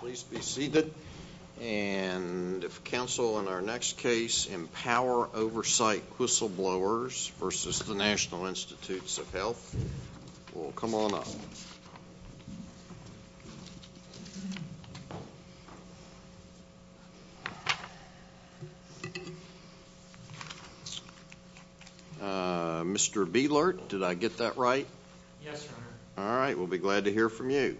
Please be seated. If counsel in our next case, Empower Oversight Whistleblowers v. National Institutes of Health will come on up. Mr. Bielert, did I get that right? Yes, Your Honor. All right. We'll be glad to hear from you.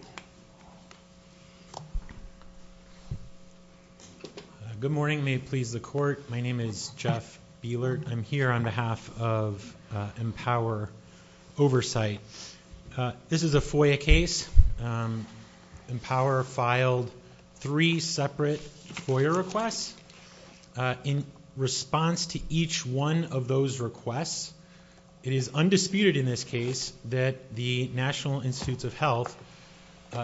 Good morning. May it please the Court. My name is Jeff Bielert. I'm here on behalf of Empower Oversight. This is a FOIA case. Empower filed three separate FOIA requests. In response to each one of those requests, it is undisputed in this case that the National Institutes of Health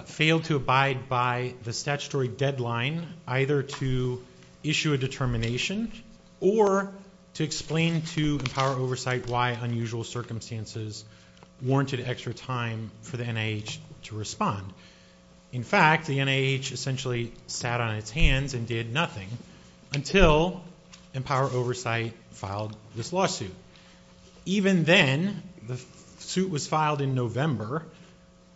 failed to abide by the statutory deadline either to issue a determination or to explain to Empower Oversight why unusual circumstances warranted extra time for the NIH to respond. In fact, the NIH essentially sat on its hands and did nothing until Empower Oversight filed this lawsuit. Even then, the suit was filed in November.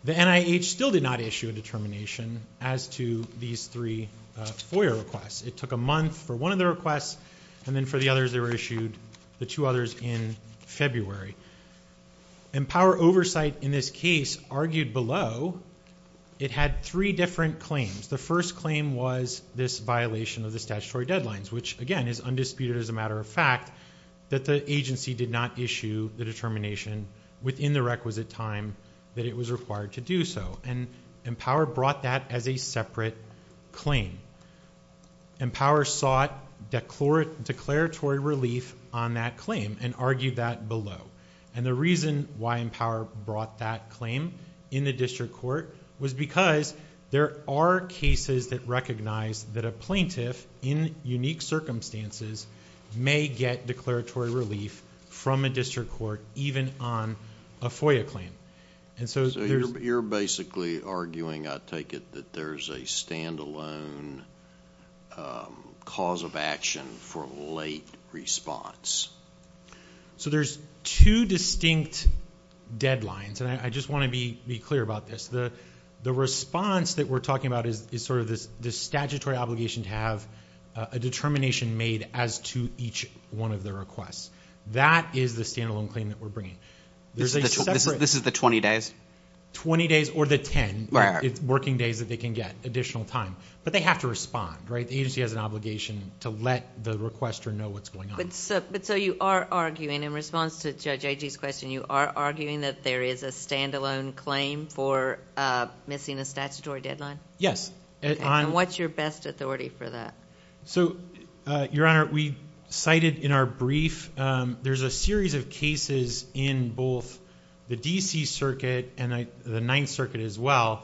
The NIH still did not issue a determination as to these three FOIA requests. It took a month for one of the requests, and then for the others they were issued, the two others in February. Empower Oversight in this case argued below it had three different claims. The first claim was this violation of the statutory deadlines, which again is undisputed as a matter of fact that the agency did not issue the determination within the requisite time that it was required to do so. Empower brought that as a separate claim. Empower sought declaratory relief on that claim and argued that below. The reason why Empower brought that claim in the district court was because there are cases that recognize that a plaintiff in unique circumstances may get declaratory relief from a district court even on a FOIA claim. So you're basically arguing, I take it, that there's a standalone cause of action for late response. So there's two distinct deadlines, and I just want to be clear about this. The response that we're talking about is sort of this statutory obligation to have a determination made as to each one of the requests. That is the standalone claim that we're bringing. This is the 20 days? Twenty days or the 10 working days that they can get additional time. But they have to respond, right? The agency has an obligation to let the requester know what's going on. But so you are arguing in response to Judge Agee's question, you are arguing that there is a standalone claim for missing a statutory deadline? Yes. And what's your best authority for that? So, Your Honor, we cited in our brief there's a series of cases in both the D.C. Circuit and the Ninth Circuit as well.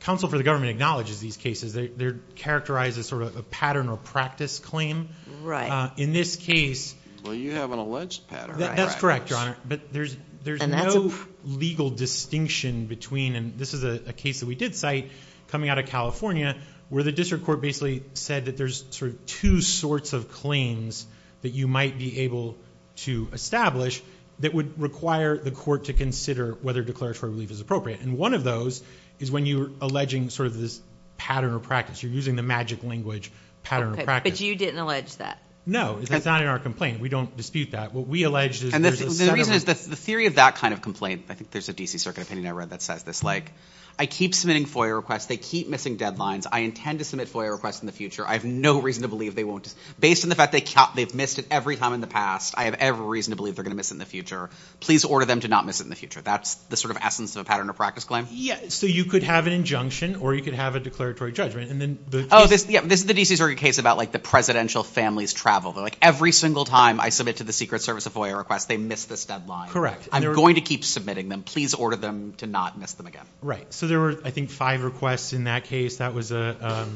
Counsel for the government acknowledges these cases. They're characterized as sort of a pattern or practice claim. Right. In this case... Well, you have an alleged pattern. That's correct, Your Honor. But there's no legal distinction between... And this is a case that we did cite coming out of California where the district court basically said that there's sort of two sorts of claims that you might be able to establish that would require the court to consider whether declaratory relief is appropriate. And one of those is when you're alleging sort of this pattern or practice. You're using the magic language pattern or practice. Okay. But you didn't allege that? No. That's not in our complaint. We don't dispute that. What we allege is there's a set of... And the reason is the theory of that kind of complaint, I think there's a D.C. Circuit opinion I read that says this, like I keep submitting FOIA requests. They keep missing deadlines. I intend to submit FOIA requests in the future. I have no reason to believe they won't. Based on the fact they've missed it every time in the past, I have every reason to believe they're going to miss it in the future. Please order them to not miss it in the future. That's the sort of essence of a pattern or practice claim? Yeah. So you could have an injunction or you could have a declaratory judgment. And then the... Oh, yeah. This is the D.C. Circuit case about like the presidential family's travel. Like every single time I submit to the Secret Service a FOIA request, they miss this deadline. I'm going to keep submitting them. Please order them to not miss them again. Right. So there were, I think, five requests in that case. That was a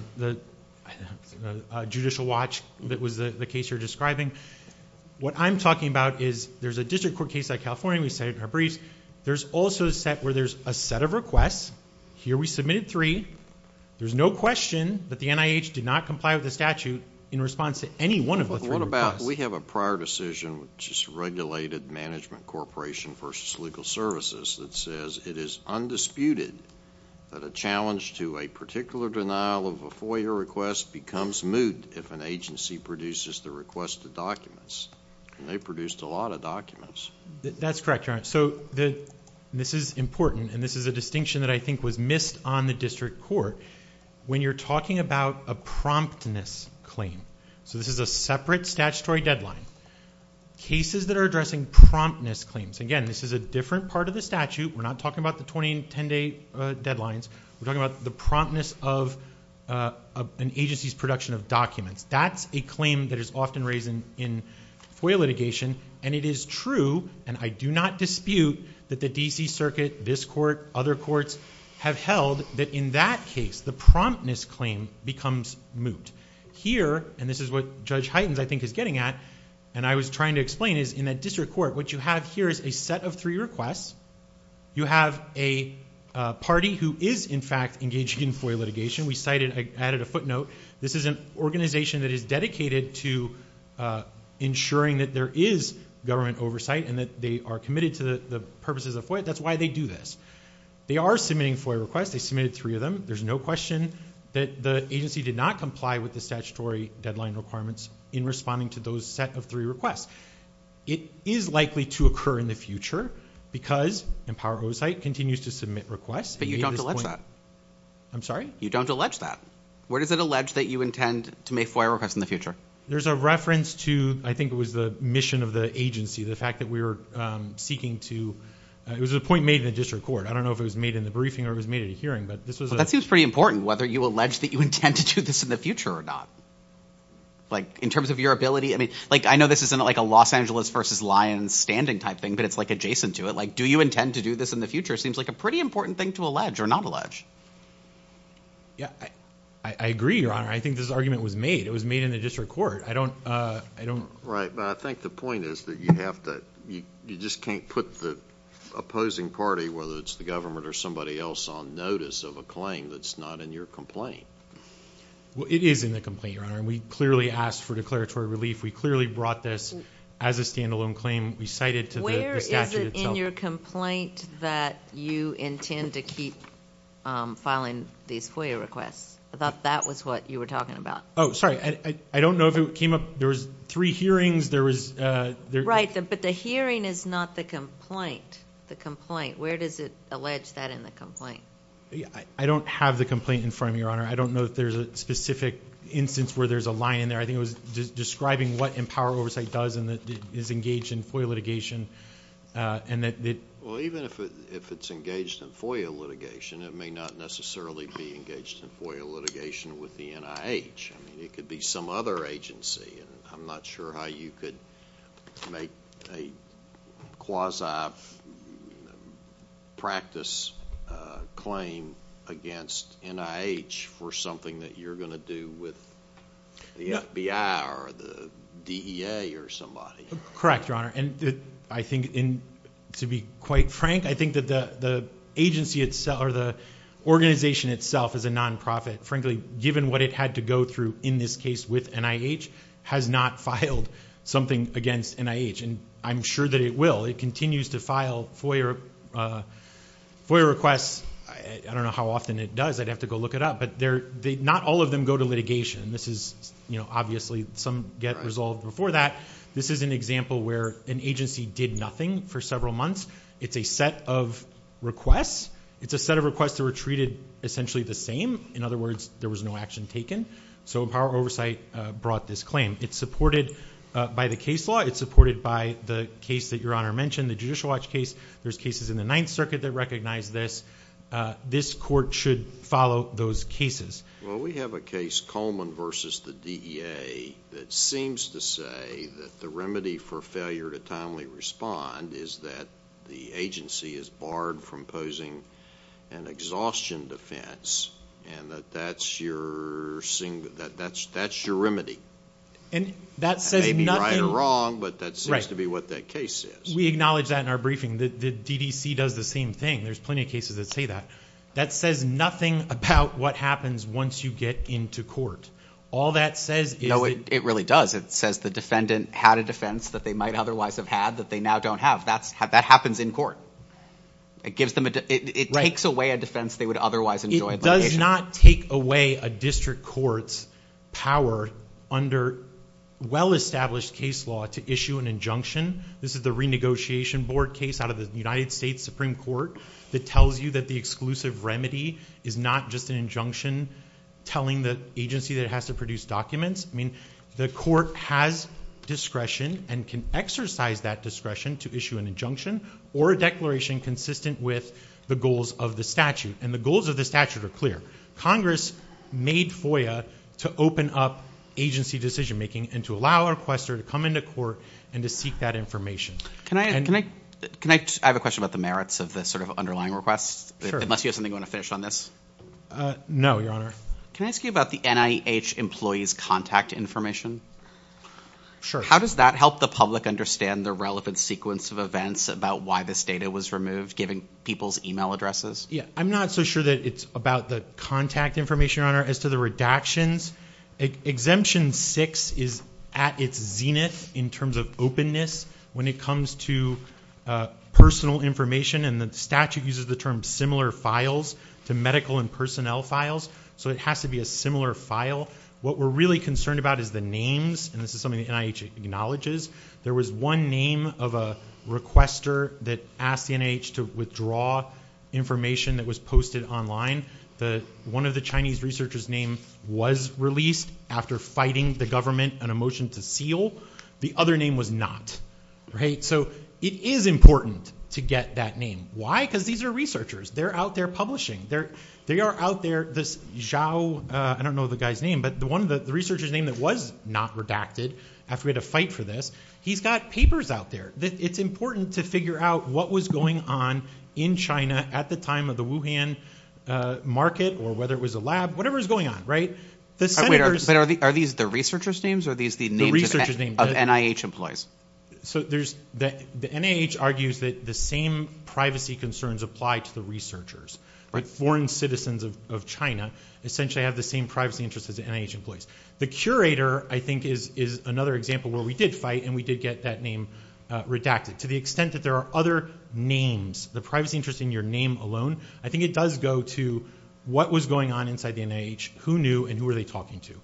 judicial watch that was the case you're describing. What I'm talking about is there's a district court case like California. We said it in our briefs. There's also a set where there's a set of requests. Here we submitted three. There's no question that the NIH did not comply with the statute in response to any one of the three requests. What about we have a prior decision, which is regulated management corporation versus legal services, that says it is undisputed that a challenge to a particular denial of a FOIA request becomes moot if an agency produces the requested documents. And they produced a lot of documents. That's correct, Your Honor. So this is important, and this is a distinction that I think was missed on the district court. When you're talking about a promptness claim, so this is a separate statutory deadline, cases that are addressing promptness claims. Again, this is a different part of the statute. We're not talking about the 20 and 10-day deadlines. We're talking about the promptness of an agency's production of documents. That's a claim that is often raised in FOIA litigation, and it is true, and I do not dispute, that the D.C. Circuit, this court, other courts have held that in that case the promptness claim becomes moot. Here, and this is what Judge Heitens, I think, is getting at, and I was trying to explain is in that district court, what you have here is a set of three requests. You have a party who is, in fact, engaged in FOIA litigation. We cited, I added a footnote. This is an organization that is dedicated to ensuring that there is government oversight and that they are committed to the purposes of FOIA. That's why they do this. They are submitting FOIA requests. They submitted three of them. There's no question that the agency did not comply with the statutory deadline requirements in responding to those set of three requests. It is likely to occur in the future because Empower Oversight continues to submit requests. But you don't allege that. I'm sorry? You don't allege that. Where does it allege that you intend to make FOIA requests in the future? There's a reference to, I think it was the mission of the agency, the fact that we were seeking to, it was a point made in the district court. I don't know if it was made in the briefing or it was made at a hearing. That seems pretty important, whether you allege that you intend to do this in the future or not. In terms of your ability, I know this isn't like a Los Angeles versus Lyons standing type thing, but it's adjacent to it. Do you intend to do this in the future seems like a pretty important thing to allege or not allege. I agree, Your Honor. I think this argument was made. It was made in the district court. Right. But I think the point is that you just can't put the opposing party, whether it's the government or somebody else, on notice of a claim that's not in your complaint. It is in the complaint, Your Honor. We clearly asked for declaratory relief. We clearly brought this as a standalone claim. We cited to the statute itself. Where is it in your complaint that you intend to keep filing these FOIA requests? I thought that was what you were talking about. Oh, sorry. I don't know if it came up. There was three hearings. Right, but the hearing is not the complaint. Where does it allege that in the complaint? I don't have the complaint in front of me, Your Honor. I don't know if there's a specific instance where there's a line in there. I think it was describing what Empower Oversight does and is engaged in FOIA litigation. Well, even if it's engaged in FOIA litigation, it may not necessarily be engaged in FOIA litigation with the NIH. I mean, it could be some other agency, and I'm not sure how you could make a quasi-practice claim against NIH for something that you're going to do with the FBI or the DEA or somebody. Correct, Your Honor, and I think, to be quite frank, I think that the agency itself or the organization itself is a nonprofit. Frankly, given what it had to go through in this case with NIH, has not filed something against NIH, and I'm sure that it will. It continues to file FOIA requests. I don't know how often it does. I'd have to go look it up, but not all of them go to litigation. Obviously, some get resolved before that. This is an example where an agency did nothing for several months. It's a set of requests. It's a set of requests that were treated essentially the same. In other words, there was no action taken, so Power Oversight brought this claim. It's supported by the case law. It's supported by the case that Your Honor mentioned, the Judicial Watch case. There's cases in the Ninth Circuit that recognize this. This court should follow those cases. Well, we have a case, Coleman v. the DEA, that seems to say that the remedy for failure to timely respond is that the agency is barred from posing an exhaustion defense and that that's your remedy. That may be right or wrong, but that seems to be what that case is. We acknowledge that in our briefing. The DDC does the same thing. There's plenty of cases that say that. That says nothing about what happens once you get into court. No, it really does. It says the defendant had a defense that they might otherwise have had that they now don't have. That happens in court. It takes away a defense they would otherwise enjoy. It does not take away a district court's power under well-established case law to issue an injunction. This is the renegotiation board case out of the United States Supreme Court that tells you that the exclusive remedy is not just an injunction telling the agency that it has to produce documents. I mean, the court has discretion and can exercise that discretion to issue an injunction or a declaration consistent with the goals of the statute. And the goals of the statute are clear. Congress made FOIA to open up agency decision-making and to allow a requester to come into court and to seek that information. Can I have a question about the merits of this sort of underlying request, unless you have something you want to finish on this? No, Your Honor. Can I ask you about the NIH employees' contact information? Sure. How does that help the public understand the relevant sequence of events about why this data was removed, given people's email addresses? I'm not so sure that it's about the contact information, Your Honor. As to the redactions, Exemption 6 is at its zenith in terms of openness when it comes to personal information, and the statute uses the term similar files to medical and personnel files. So it has to be a similar file. What we're really concerned about is the names, and this is something the NIH acknowledges. There was one name of a requester that asked the NIH to withdraw information that was posted online. One of the Chinese researcher's name was released after fighting the government and a motion to seal. The other name was not. So it is important to get that name. Why? Because these are researchers. They're out there publishing. They are out there. This Zhao, I don't know the guy's name, but the researcher's name that was not redacted after we had a fight for this, he's got papers out there. It's important to figure out what was going on in China at the time of the Wuhan market or whether it was a lab, whatever was going on, right? But are these the researcher's names or are these the names of NIH employees? The NIH argues that the same privacy concerns apply to the researchers. Foreign citizens of China essentially have the same privacy interests as NIH employees. The curator, I think, is another example where we did fight and we did get that name redacted. To the extent that there are other names, the privacy interest in your name alone, I think it does go to what was going on inside the NIH, who knew, and who were they talking to.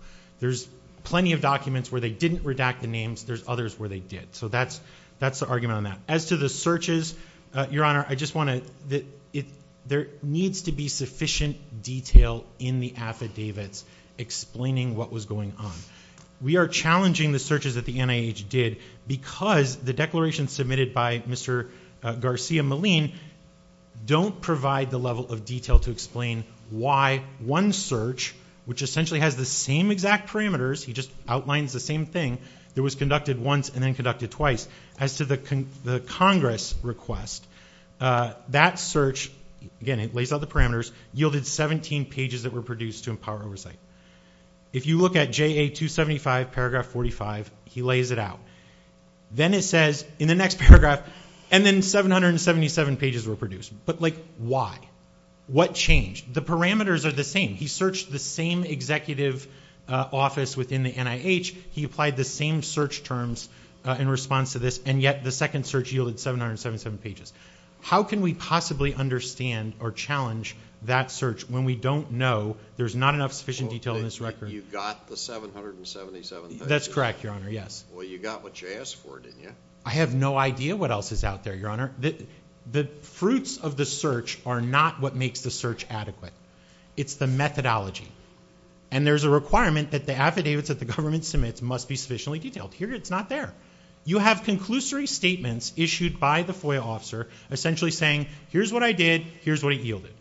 There's plenty of documents where they didn't redact the names. There's others where they did. So that's the argument on that. As to the searches, Your Honor, I just want to, there needs to be sufficient detail in the affidavits explaining what was going on. We are challenging the searches that the NIH did because the declarations submitted by Mr. Garcia-Molin don't provide the level of detail to explain why one search, which essentially has the same exact parameters. He just outlines the same thing that was conducted once and then conducted twice. As to the Congress request, that search, again, it lays out the parameters, yielded 17 pages that were produced to empower oversight. If you look at JA275, paragraph 45, he lays it out. Then it says in the next paragraph, and then 777 pages were produced. But, like, why? What changed? The parameters are the same. He searched the same executive office within the NIH. He applied the same search terms in response to this, and yet the second search yielded 777 pages. How can we possibly understand or challenge that search when we don't know, there's not enough sufficient detail in this record. You got the 777 pages? That's correct, Your Honor, yes. Well, you got what you asked for, didn't you? I have no idea what else is out there, Your Honor. The fruits of the search are not what makes the search adequate. It's the methodology. And there's a requirement that the affidavits that the government submits must be sufficiently detailed. It's not there. You have conclusory statements issued by the FOIA officer, essentially saying, here's what I did, here's what he yielded.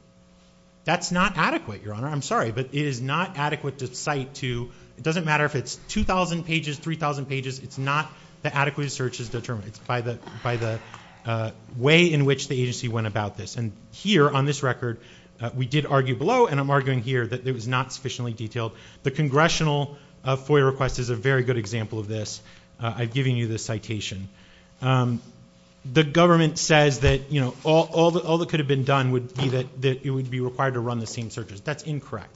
That's not adequate, Your Honor. I'm sorry, but it is not adequate to cite to, it doesn't matter if it's 2,000 pages, 3,000 pages, it's not the adequate search is determined. It's by the way in which the agency went about this. And here on this record, we did argue below, and I'm arguing here that it was not sufficiently detailed. The Congressional FOIA request is a very good example of this. I've given you the citation. The government says that, you know, all that could have been done would be that it would be required to run the same searches. That's incorrect.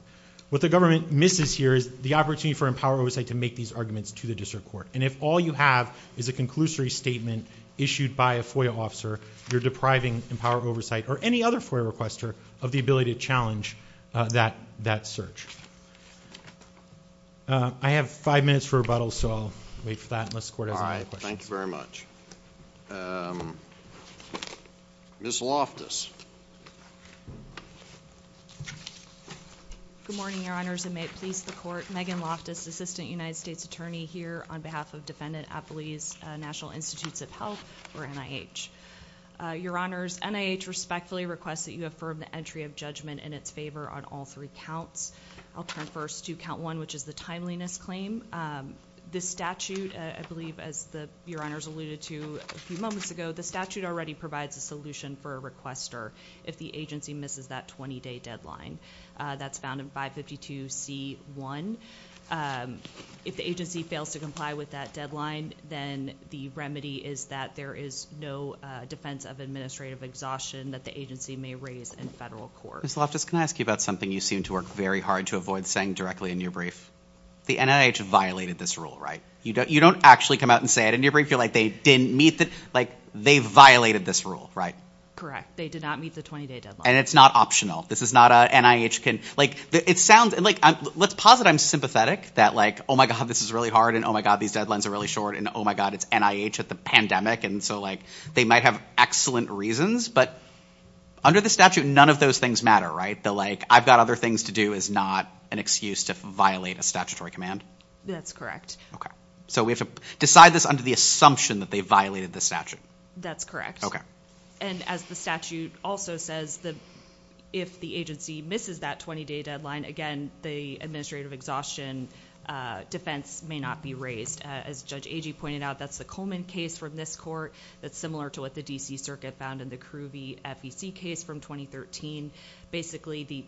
What the government misses here is the opportunity for empowered oversight to make these arguments to the district court. And if all you have is a conclusory statement issued by a FOIA officer, you're depriving empowered oversight or any other FOIA requester of the ability to challenge that search. I have five minutes for rebuttals, so I'll wait for that. All right. Thank you very much. Ms. Loftus. Good morning, Your Honors, and may it please the Court. Megan Loftus, Assistant United States Attorney here on behalf of National Institutes of Health, or NIH. Your Honors, NIH respectfully requests that you affirm the entry of judgment in its favor on all three counts. I'll turn first to count one, which is the timeliness claim. This statute, I believe, as Your Honors alluded to a few moments ago, the statute already provides a solution for a requester if the agency misses that 20-day deadline. That's found in 552C1. If the agency fails to comply with that deadline, then the remedy is that there is no defense of administrative exhaustion that the agency may raise in federal court. Ms. Loftus, can I ask you about something you seem to work very hard to avoid saying directly in your brief? The NIH violated this rule, right? You don't actually come out and say it in your brief. You're like, they violated this rule, right? Correct. They did not meet the 20-day deadline. And it's not optional. This is not a NIH can – it sounds – let's posit I'm sympathetic, that like, oh, my God, this is really hard, and oh, my God, these deadlines are really short, and oh, my God, it's NIH at the pandemic, and so they might have excellent reasons. But under the statute, none of those things matter, right? The like, I've got other things to do is not an excuse to violate a statutory command? That's correct. Okay. So we have to decide this under the assumption that they violated the statute. That's correct. Okay. And as the statute also says, if the agency misses that 20-day deadline, again, the administrative exhaustion defense may not be raised. As Judge Agee pointed out, that's the Coleman case from this court. That's similar to what the D.C. Circuit found in the CRUVIE FEC case from 2013. Basically,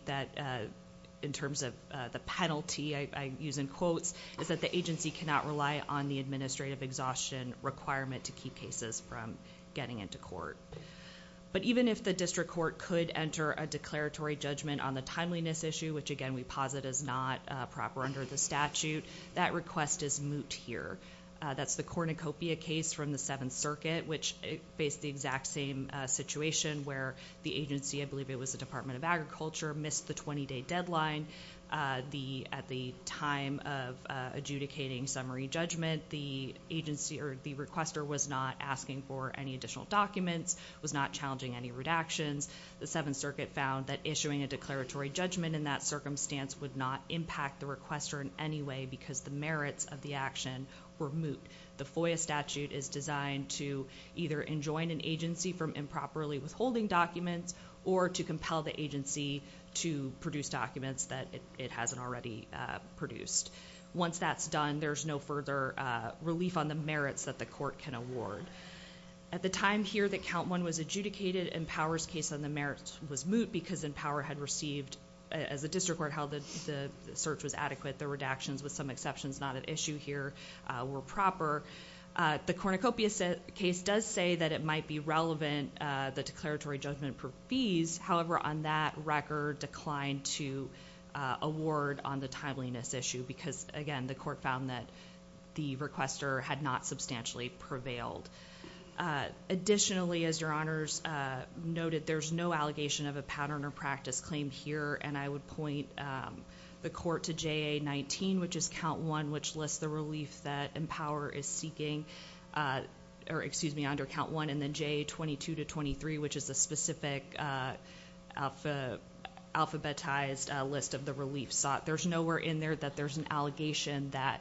in terms of the penalty, I use in quotes, is that the agency cannot rely on the administrative exhaustion requirement to keep cases from getting into court. But even if the district court could enter a declaratory judgment on the timeliness issue, which, again, we posit is not proper under the statute, that request is moot here. That's the Cornucopia case from the Seventh Circuit, which faced the exact same situation where the agency, I believe it was the Department of Agriculture, missed the 20-day deadline. At the time of adjudicating summary judgment, the agency or the requester was not asking for any additional documents, was not challenging any redactions. The Seventh Circuit found that issuing a declaratory judgment in that circumstance would not impact the requester in any way because the merits of the action were moot. The FOIA statute is designed to either enjoin an agency from improperly withholding documents or to compel the agency to produce documents that it hasn't already produced. Once that's done, there's no further relief on the merits that the court can award. At the time here that Count 1 was adjudicated, Empower's case on the merits was moot because Empower had received, as the district court held that the search was adequate, the redactions, with some exceptions not at issue here, were proper. The Cornucopia case does say that it might be relevant, the declaratory judgment for fees. However, on that record, declined to award on the timeliness issue because, again, the court found that the requester had not substantially prevailed. Additionally, as Your Honors noted, there's no allegation of a pattern or practice claim here, and I would point the court to JA 19, which is Count 1, which lists the relief that Empower is seeking under Count 1, and then JA 22 to 23, which is a specific alphabetized list of the relief sought. There's nowhere in there that there's an allegation that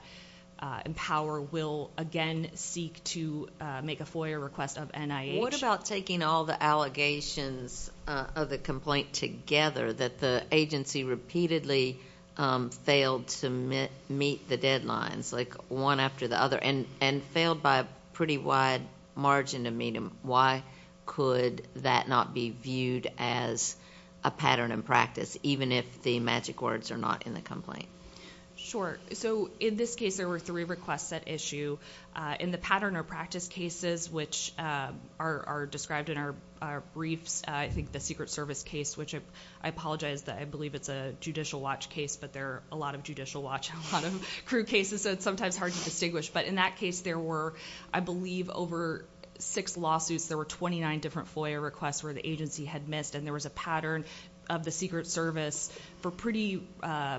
Empower will, again, seek to make a FOIA request of NIH. What about taking all the allegations of the complaint together, that the agency repeatedly failed to meet the deadlines, like one after the other, and failed by a pretty wide margin to meet them? Why could that not be viewed as a pattern and practice, even if the magic words are not in the complaint? In this case, there were three requests at issue. In the pattern or practice cases, which are described in our briefs, I think the Secret Service case, which I apologize. I believe it's a Judicial Watch case, but there are a lot of Judicial Watch and a lot of CRU cases, so it's sometimes hard to distinguish. But in that case, there were, I believe, over six lawsuits. There were 29 different FOIA requests where the agency had missed, and there was a pattern of the Secret Service for pretty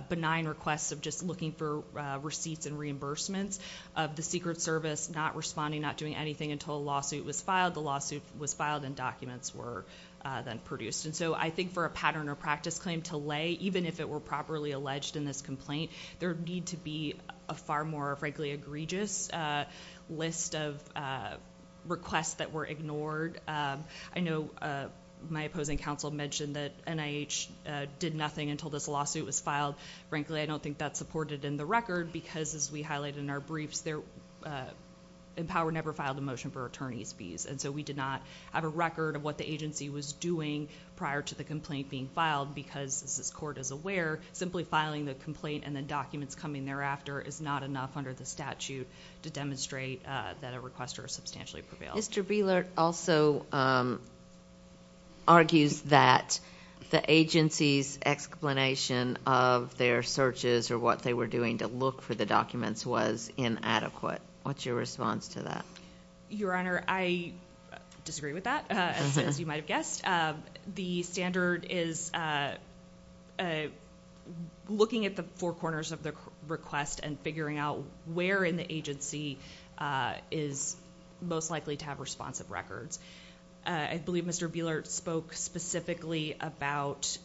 benign requests of just looking for receipts and reimbursements of the Secret Service, not responding, not doing anything until a lawsuit was filed. The lawsuit was filed, and documents were then produced. So I think for a pattern or practice claim to lay, even if it were properly alleged in this complaint, there would need to be a far more, frankly, egregious list of requests that were ignored. I know my opposing counsel mentioned that NIH did nothing until this lawsuit was filed. Frankly, I don't think that's supported in the record because, as we highlighted in our briefs, Empower never filed a motion for attorney's fees, and so we did not have a record of what the agency was doing prior to the complaint being filed because, as this Court is aware, simply filing the complaint and the documents coming thereafter is not enough under the statute to demonstrate that a requester substantially prevailed. Mr. Bieler also argues that the agency's explanation of their searches or what they were doing to look for the documents was inadequate. What's your response to that? Your Honor, I disagree with that, as you might have guessed. The standard is looking at the four corners of the request and figuring out where in the agency is most likely to have responsive records. I believe Mr. Bieler spoke specifically about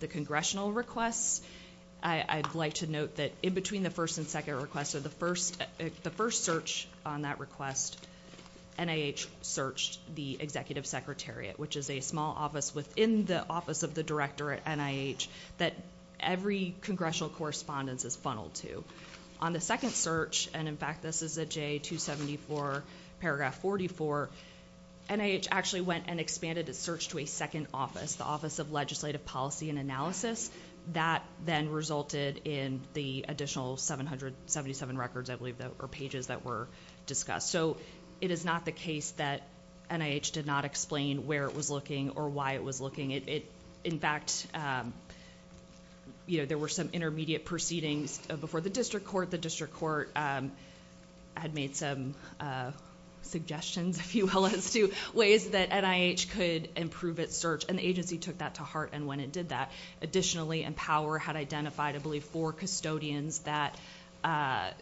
the Congressional requests. I'd like to note that in between the first and second requests, the first search on that request, NIH searched the Executive Secretariat, which is a small office within the Office of the Director at NIH that every Congressional correspondence is funneled to. On the second search, and in fact this is at J274, paragraph 44, NIH actually went and expanded its search to a second office, the Office of Legislative Policy and Analysis. That then resulted in the additional 777 records, I believe, or pages that were discussed. So it is not the case that NIH did not explain where it was looking or why it was looking. In fact, there were some intermediate proceedings before the district court. The district court had made some suggestions, if you will, as to ways that NIH could improve its search, and the agency took that to heart when it did that. Additionally, Empower had identified, I believe, four custodians that it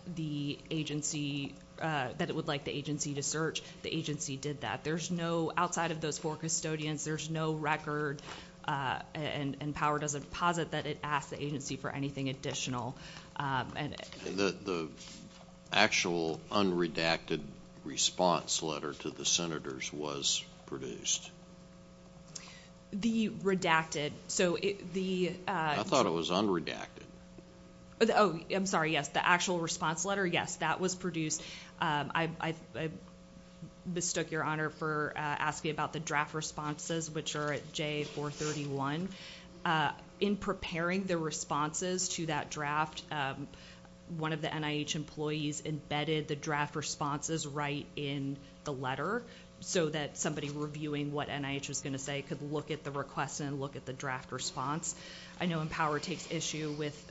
would like the agency to search. The agency did that. Outside of those four custodians, there's no record, and Empower doesn't posit that it asked the agency for anything additional. The actual unredacted response letter to the Senators was produced? The redacted. I thought it was unredacted. Oh, I'm sorry, yes. The actual response letter, yes, that was produced. I mistook your honor for asking about the draft responses, which are at J431. In preparing the responses to that draft, one of the NIH employees embedded the draft responses right in the letter so that somebody reviewing what NIH was going to say could look at the request and look at the draft response. I know Empower takes issue with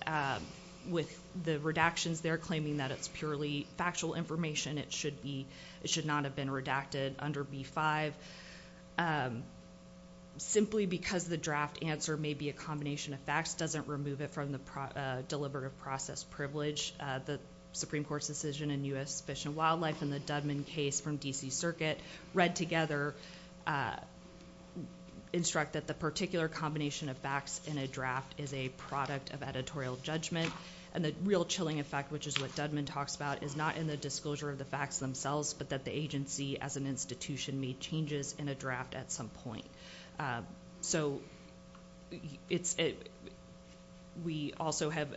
the redactions there, claiming that it's purely factual information. It should not have been redacted under B-5. Simply because the draft answer may be a combination of facts doesn't remove it from the deliberative process privilege. The Supreme Court's decision in U.S. Fish and Wildlife and the Dudman case from D.C. Circuit read together instruct that the particular combination of facts in a draft is a product of editorial judgment, and the real chilling effect, which is what Dudman talks about, is not in the disclosure of the facts themselves, but that the agency as an institution made changes in a draft at some point. So we also have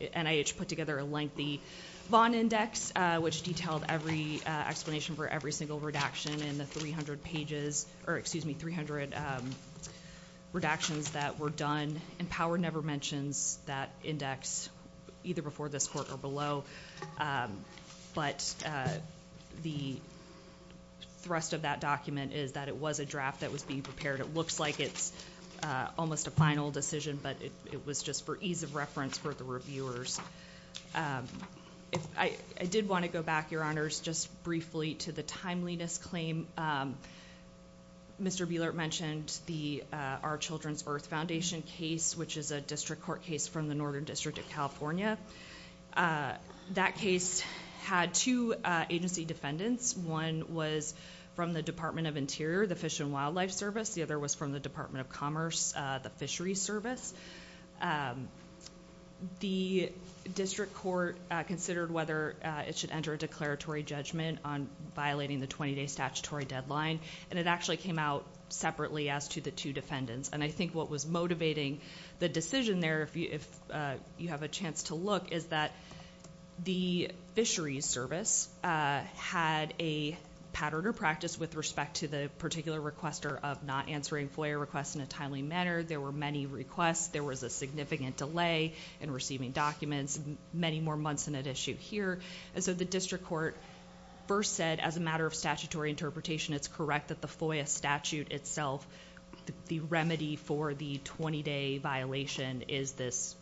NIH put together a lengthy Vaughn Index, which detailed every explanation for every single redaction in the 300 pages, or excuse me, 300 redactions that were done. Empower never mentions that index, either before this court or below, but the thrust of that document is that it was a draft that was being prepared. It looks like it's almost a final decision, but it was just for ease of reference for the reviewers. I did want to go back, Your Honors, just briefly to the timeliness claim. Mr. Buelert mentioned the Our Children's Earth Foundation case, which is a district court case from the Northern District of California. That case had two agency defendants. One was from the Department of Interior, the Fish and Wildlife Service. The other was from the Department of Commerce, the Fisheries Service. The district court considered whether it should enter a declaratory judgment on violating the 20-day statutory deadline, and it actually came out separately as to the two defendants. I think what was motivating the decision there, if you have a chance to look, is that the Fisheries Service had a pattern or practice with respect to the particular requester of not answering FOIA requests in a timely manner. There were many requests. There was a significant delay in receiving documents, many more months than at issue here. The district court first said, as a matter of statutory interpretation, it's correct that the FOIA statute itself, the remedy for the 20-day violation, is this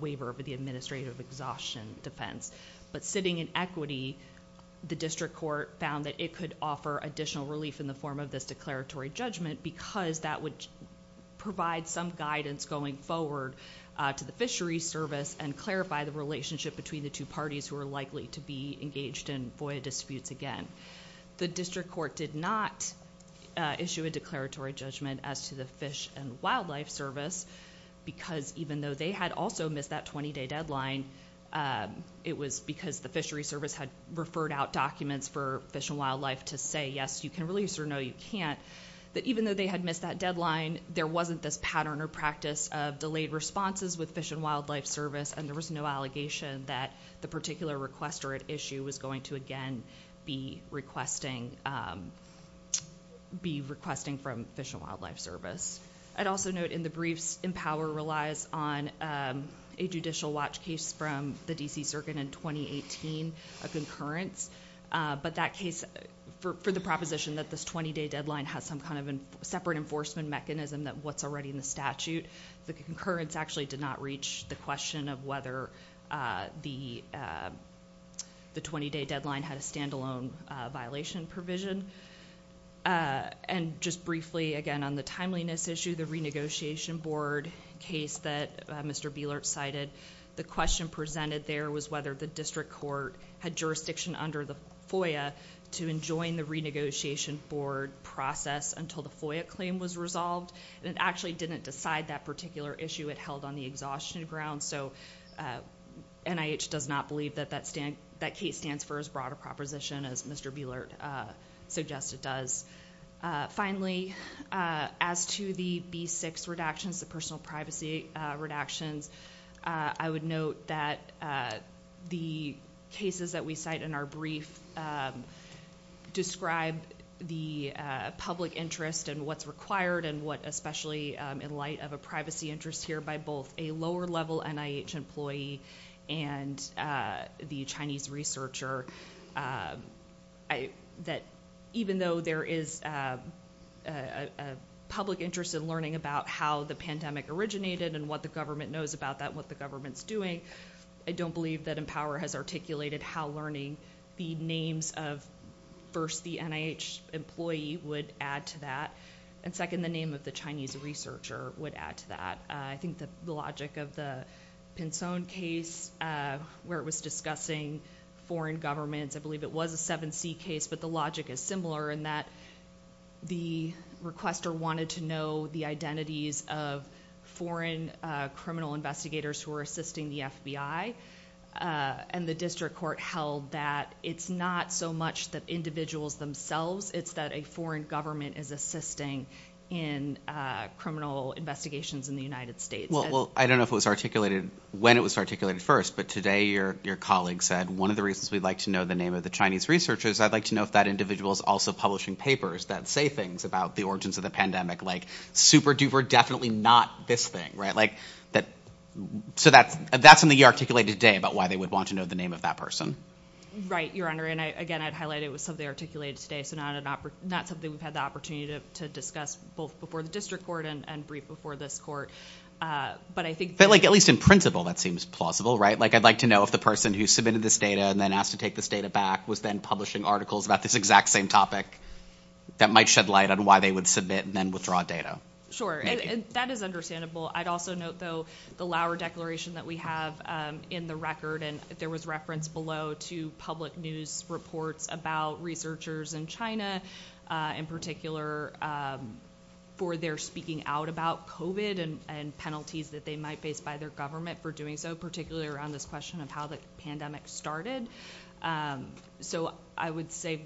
waiver for the administrative exhaustion defense. Sitting in equity, the district court found that it could offer additional relief in the form of this declaratory judgment because that would provide some guidance going forward to the Fisheries Service and clarify the relationship between the two parties who are likely to be engaged in FOIA disputes again. The district court did not issue a declaratory judgment as to the Fish and Wildlife Service because even though they had also missed that 20-day deadline, it was because the Fisheries Service had referred out documents for Fish and Wildlife to say, yes, you can release or no, you can't, that even though they had missed that deadline, there wasn't this pattern or practice of delayed responses with Fish and Wildlife Service and there was no allegation that the particular requester at issue was going to, again, be requesting from Fish and Wildlife Service. I'd also note in the briefs, EMPOWER relies on a judicial watch case from the D.C. Circuit in 2018, a concurrence, but that case, for the proposition that this 20-day deadline has some kind of separate enforcement mechanism that what's already in the statute, the concurrence actually did not reach the question of whether the 20-day deadline had a stand-alone violation provision. And just briefly, again, on the timeliness issue, the renegotiation board case that Mr. Bielert cited, the question presented there was whether the district court had jurisdiction under the FOIA to enjoin the renegotiation board process until the FOIA claim was resolved. And it actually didn't decide that particular issue. It held on the exhaustion ground. So NIH does not believe that that case stands for as broad a proposition as Mr. Bielert suggested does. Finally, as to the B6 redactions, the personal privacy redactions, I would note that the cases that we cite in our brief describe the public interest and what's required and what especially in light of a privacy interest here by both a lower-level NIH employee and the Chinese researcher, that even though there is a public interest in learning about how the pandemic originated and what the government knows about that and what the government's doing, I don't believe that Empower has articulated how learning the names of, first, the NIH employee would add to that, and second, the name of the Chinese researcher would add to that. I think that the logic of the Pin Son case, where it was discussing foreign governments, I believe it was a 7C case, but the logic is similar in that the requester wanted to know the identities of foreign criminal investigators who were assisting the FBI, and the district court held that it's not so much the individuals themselves, it's that a foreign government is assisting in criminal investigations in the United States. Well, I don't know when it was articulated first, but today your colleague said, one of the reasons we'd like to know the name of the Chinese researcher is I'd like to know if that individual is also publishing papers that say things about the origins of the pandemic, like super duper definitely not this thing, right? So that's something you articulated today about why they would want to know the name of that person. Right, Your Honor. And again, I'd highlight it was something I articulated today, so not something we've had the opportunity to discuss both before the district court and briefed before this court. But at least in principle, that seems plausible, right? Like I'd like to know if the person who submitted this data and then asked to take this data back was then publishing articles about this exact same topic that might shed light on why they would submit and then withdraw data. Sure, that is understandable. I'd also note, though, the Lauer Declaration that we have in the record, and there was reference below to public news reports about researchers in China, in particular, for their speaking out about COVID and penalties that they might face by their government for doing so, particularly around this question of how the pandemic started. So I would say,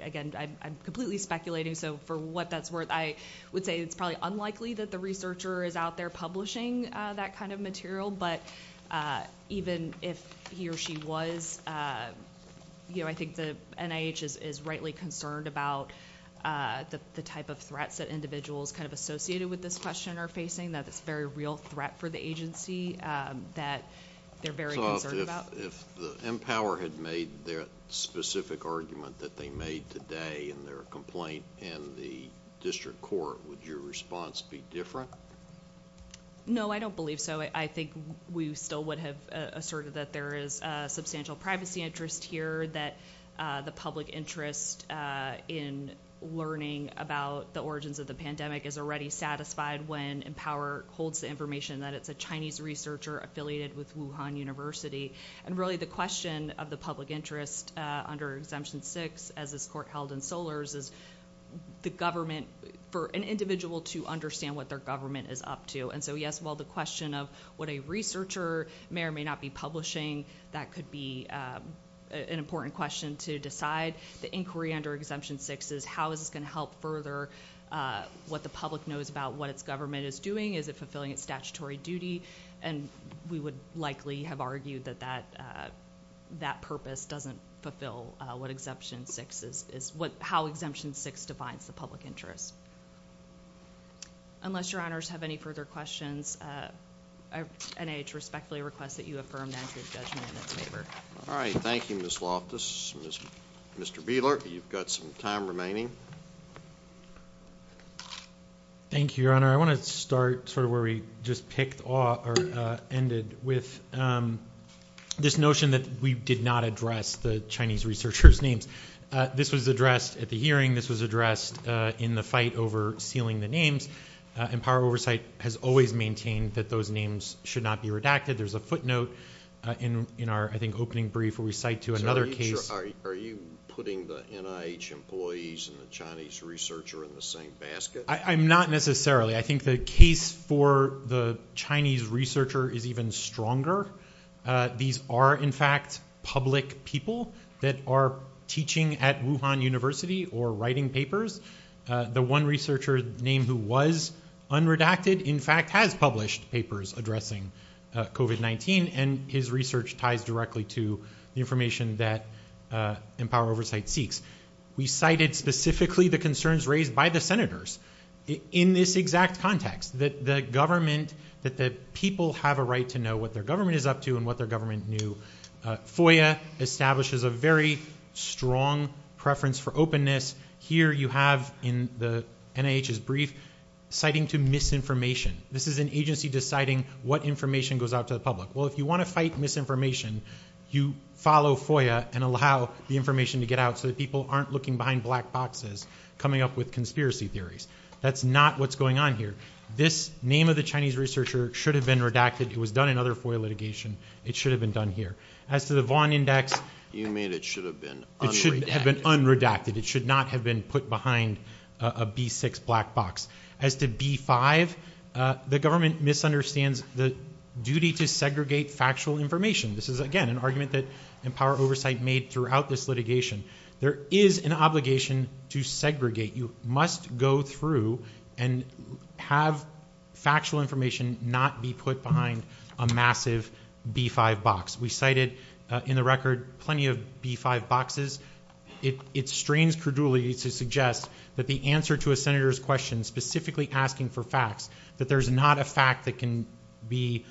again, I'm completely speculating, so for what that's worth, I would say it's probably unlikely that the researcher is out there publishing that kind of material, but even if he or she was, I think the NIH is rightly concerned about the type of threats that individuals kind of associated with this question are facing, that it's a very real threat for the agency that they're very concerned about. So if Empower had made that specific argument that they made today in their complaint in the district court, would your response be different? No, I don't believe so. I think we still would have asserted that there is substantial privacy interest here, that the public interest in learning about the origins of the pandemic is already satisfied when Empower holds the information that it's a Chinese researcher affiliated with Wuhan University, and really the question of the public interest under Exemption 6, as this court held in Solers, is the government, for an individual to understand what their government is up to, and so yes, while the question of what a researcher may or may not be publishing, that could be an important question to decide, the inquiry under Exemption 6 is how is this going to help further what the public knows about what its government is doing, is it fulfilling its statutory duty, and we would likely have argued that that purpose doesn't fulfill what Exemption 6 is, how Exemption 6 defines the public interest. Unless your honors have any further questions, NIH respectfully requests that you affirm the entry of judgment in its favor. All right, thank you, Ms. Loftus. Mr. Bieler, you've got some time remaining. Thank you, Your Honor. I want to start sort of where we just picked off, or ended with, this notion that we did not address the Chinese researcher's names. This was addressed at the hearing. This was addressed in the fight over sealing the names, and Power Oversight has always maintained that those names should not be redacted. There's a footnote in our, I think, opening brief where we cite to another case. Are you putting the NIH employees and the Chinese researcher in the same basket? I'm not necessarily. I think the case for the Chinese researcher is even stronger. These are, in fact, public people that are teaching at Wuhan University or writing papers. The one researcher named who was unredacted, in fact, has published papers addressing COVID-19, and his research ties directly to the information that Empower Oversight seeks. We cited specifically the concerns raised by the senators. In this exact context, that the government, that the people have a right to know what their government is up to and what their government knew, FOIA establishes a very strong preference for openness. Here you have in the NIH's brief citing to misinformation. This is an agency deciding what information goes out to the public. Well, if you want to fight misinformation, you follow FOIA and allow the information to get out so that people aren't looking behind black boxes coming up with conspiracy theories. That's not what's going on here. This name of the Chinese researcher should have been redacted. It was done in other FOIA litigation. It should have been done here. As to the Vaughn Index, You mean it should have been unredacted. It should have been unredacted. It should not have been put behind a B6 black box. As to B5, the government misunderstands the duty to segregate factual information. This is, again, an argument that Empower Oversight made throughout this litigation. There is an obligation to segregate. You must go through and have factual information not be put behind a massive B5 box. We cited, in the record, plenty of B5 boxes. It strains credulity to suggest that the answer to a senator's question, specifically asking for facts, that there's not a fact that can be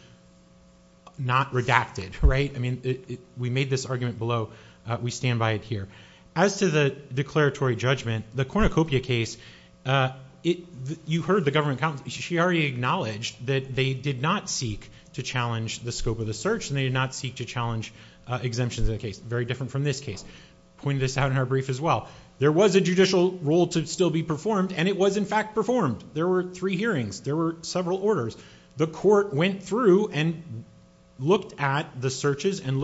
not redacted. We made this argument below. We stand by it here. As to the declaratory judgment, the Cornucopia case, you heard the government counsel. She already acknowledged that they did not seek to challenge the scope of the search, and they did not seek to challenge exemptions in the case. Very different from this case. I pointed this out in her brief as well. There was a judicial role to still be performed, and it was, in fact, performed. There were three hearings. There were several orders. The court went through and looked at the searches and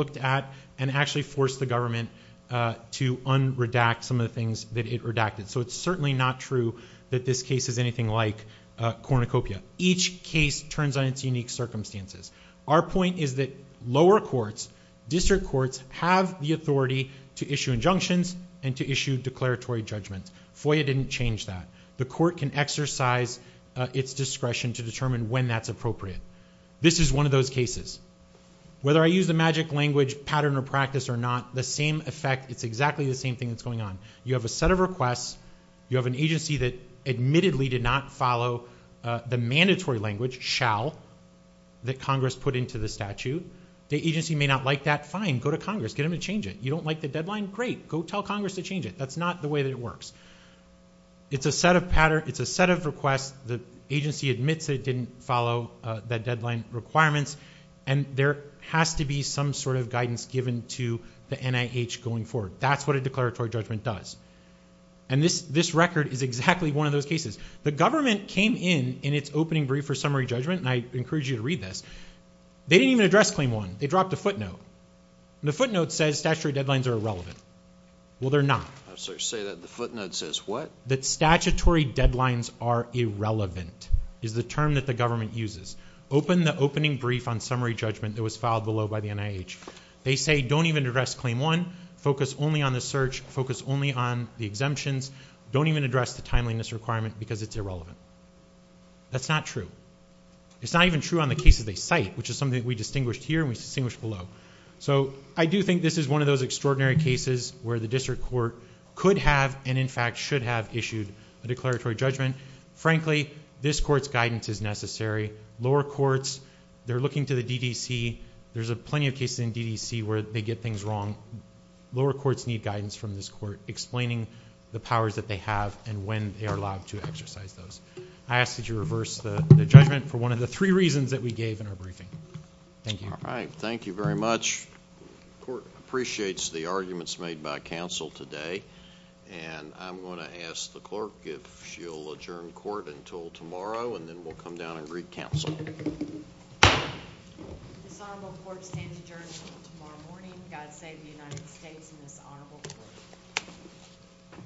actually forced the government to unredact some of the things that it redacted. It's certainly not true that this case is anything like Cornucopia. Each case turns on its unique circumstances. Our point is that lower courts, district courts, have the authority to issue injunctions and to issue declaratory judgments. FOIA didn't change that. The court can exercise its discretion to determine when that's appropriate. This is one of those cases. Whether I use the magic language pattern or practice or not, the same effect, it's exactly the same thing that's going on. You have a set of requests. You have an agency that admittedly did not follow the mandatory language, shall, that Congress put into the statute. The agency may not like that. Fine, go to Congress. Get them to change it. You don't like the deadline? Great. Go tell Congress to change it. That's not the way that it works. It's a set of requests. The agency admits that it didn't follow the deadline requirements, and there has to be some sort of guidance given to the NIH going forward. That's what a declaratory judgment does. And this record is exactly one of those cases. The government came in in its opening brief for summary judgment, and I encourage you to read this. They didn't even address Claim 1. They dropped a footnote. The footnote says statutory deadlines are irrelevant. Well, they're not. I'm sorry to say that. The footnote says what? That statutory deadlines are irrelevant is the term that the government uses. Open the opening brief on summary judgment that was filed below by the NIH. They say don't even address Claim 1. Focus only on the search. Focus only on the exemptions. Don't even address the timeliness requirement because it's irrelevant. That's not true. It's not even true on the cases they cite, which is something that we distinguished here and we distinguished below. So I do think this is one of those extraordinary cases where the district court could have and, in fact, should have issued a declaratory judgment. Frankly, this court's guidance is necessary. Lower courts, they're looking to the DDC. There's plenty of cases in DDC where they get things wrong. Lower courts need guidance from this court explaining the powers that they have and when they are allowed to exercise those. I ask that you reverse the judgment for one of the three reasons that we gave in our briefing. Thank you. All right. Thank you very much. The court appreciates the arguments made by counsel today, and I'm going to ask the clerk if she'll adjourn court until tomorrow, and then we'll come down and greet counsel. This honorable court stands adjourned until tomorrow morning. God save the United States and this honorable court.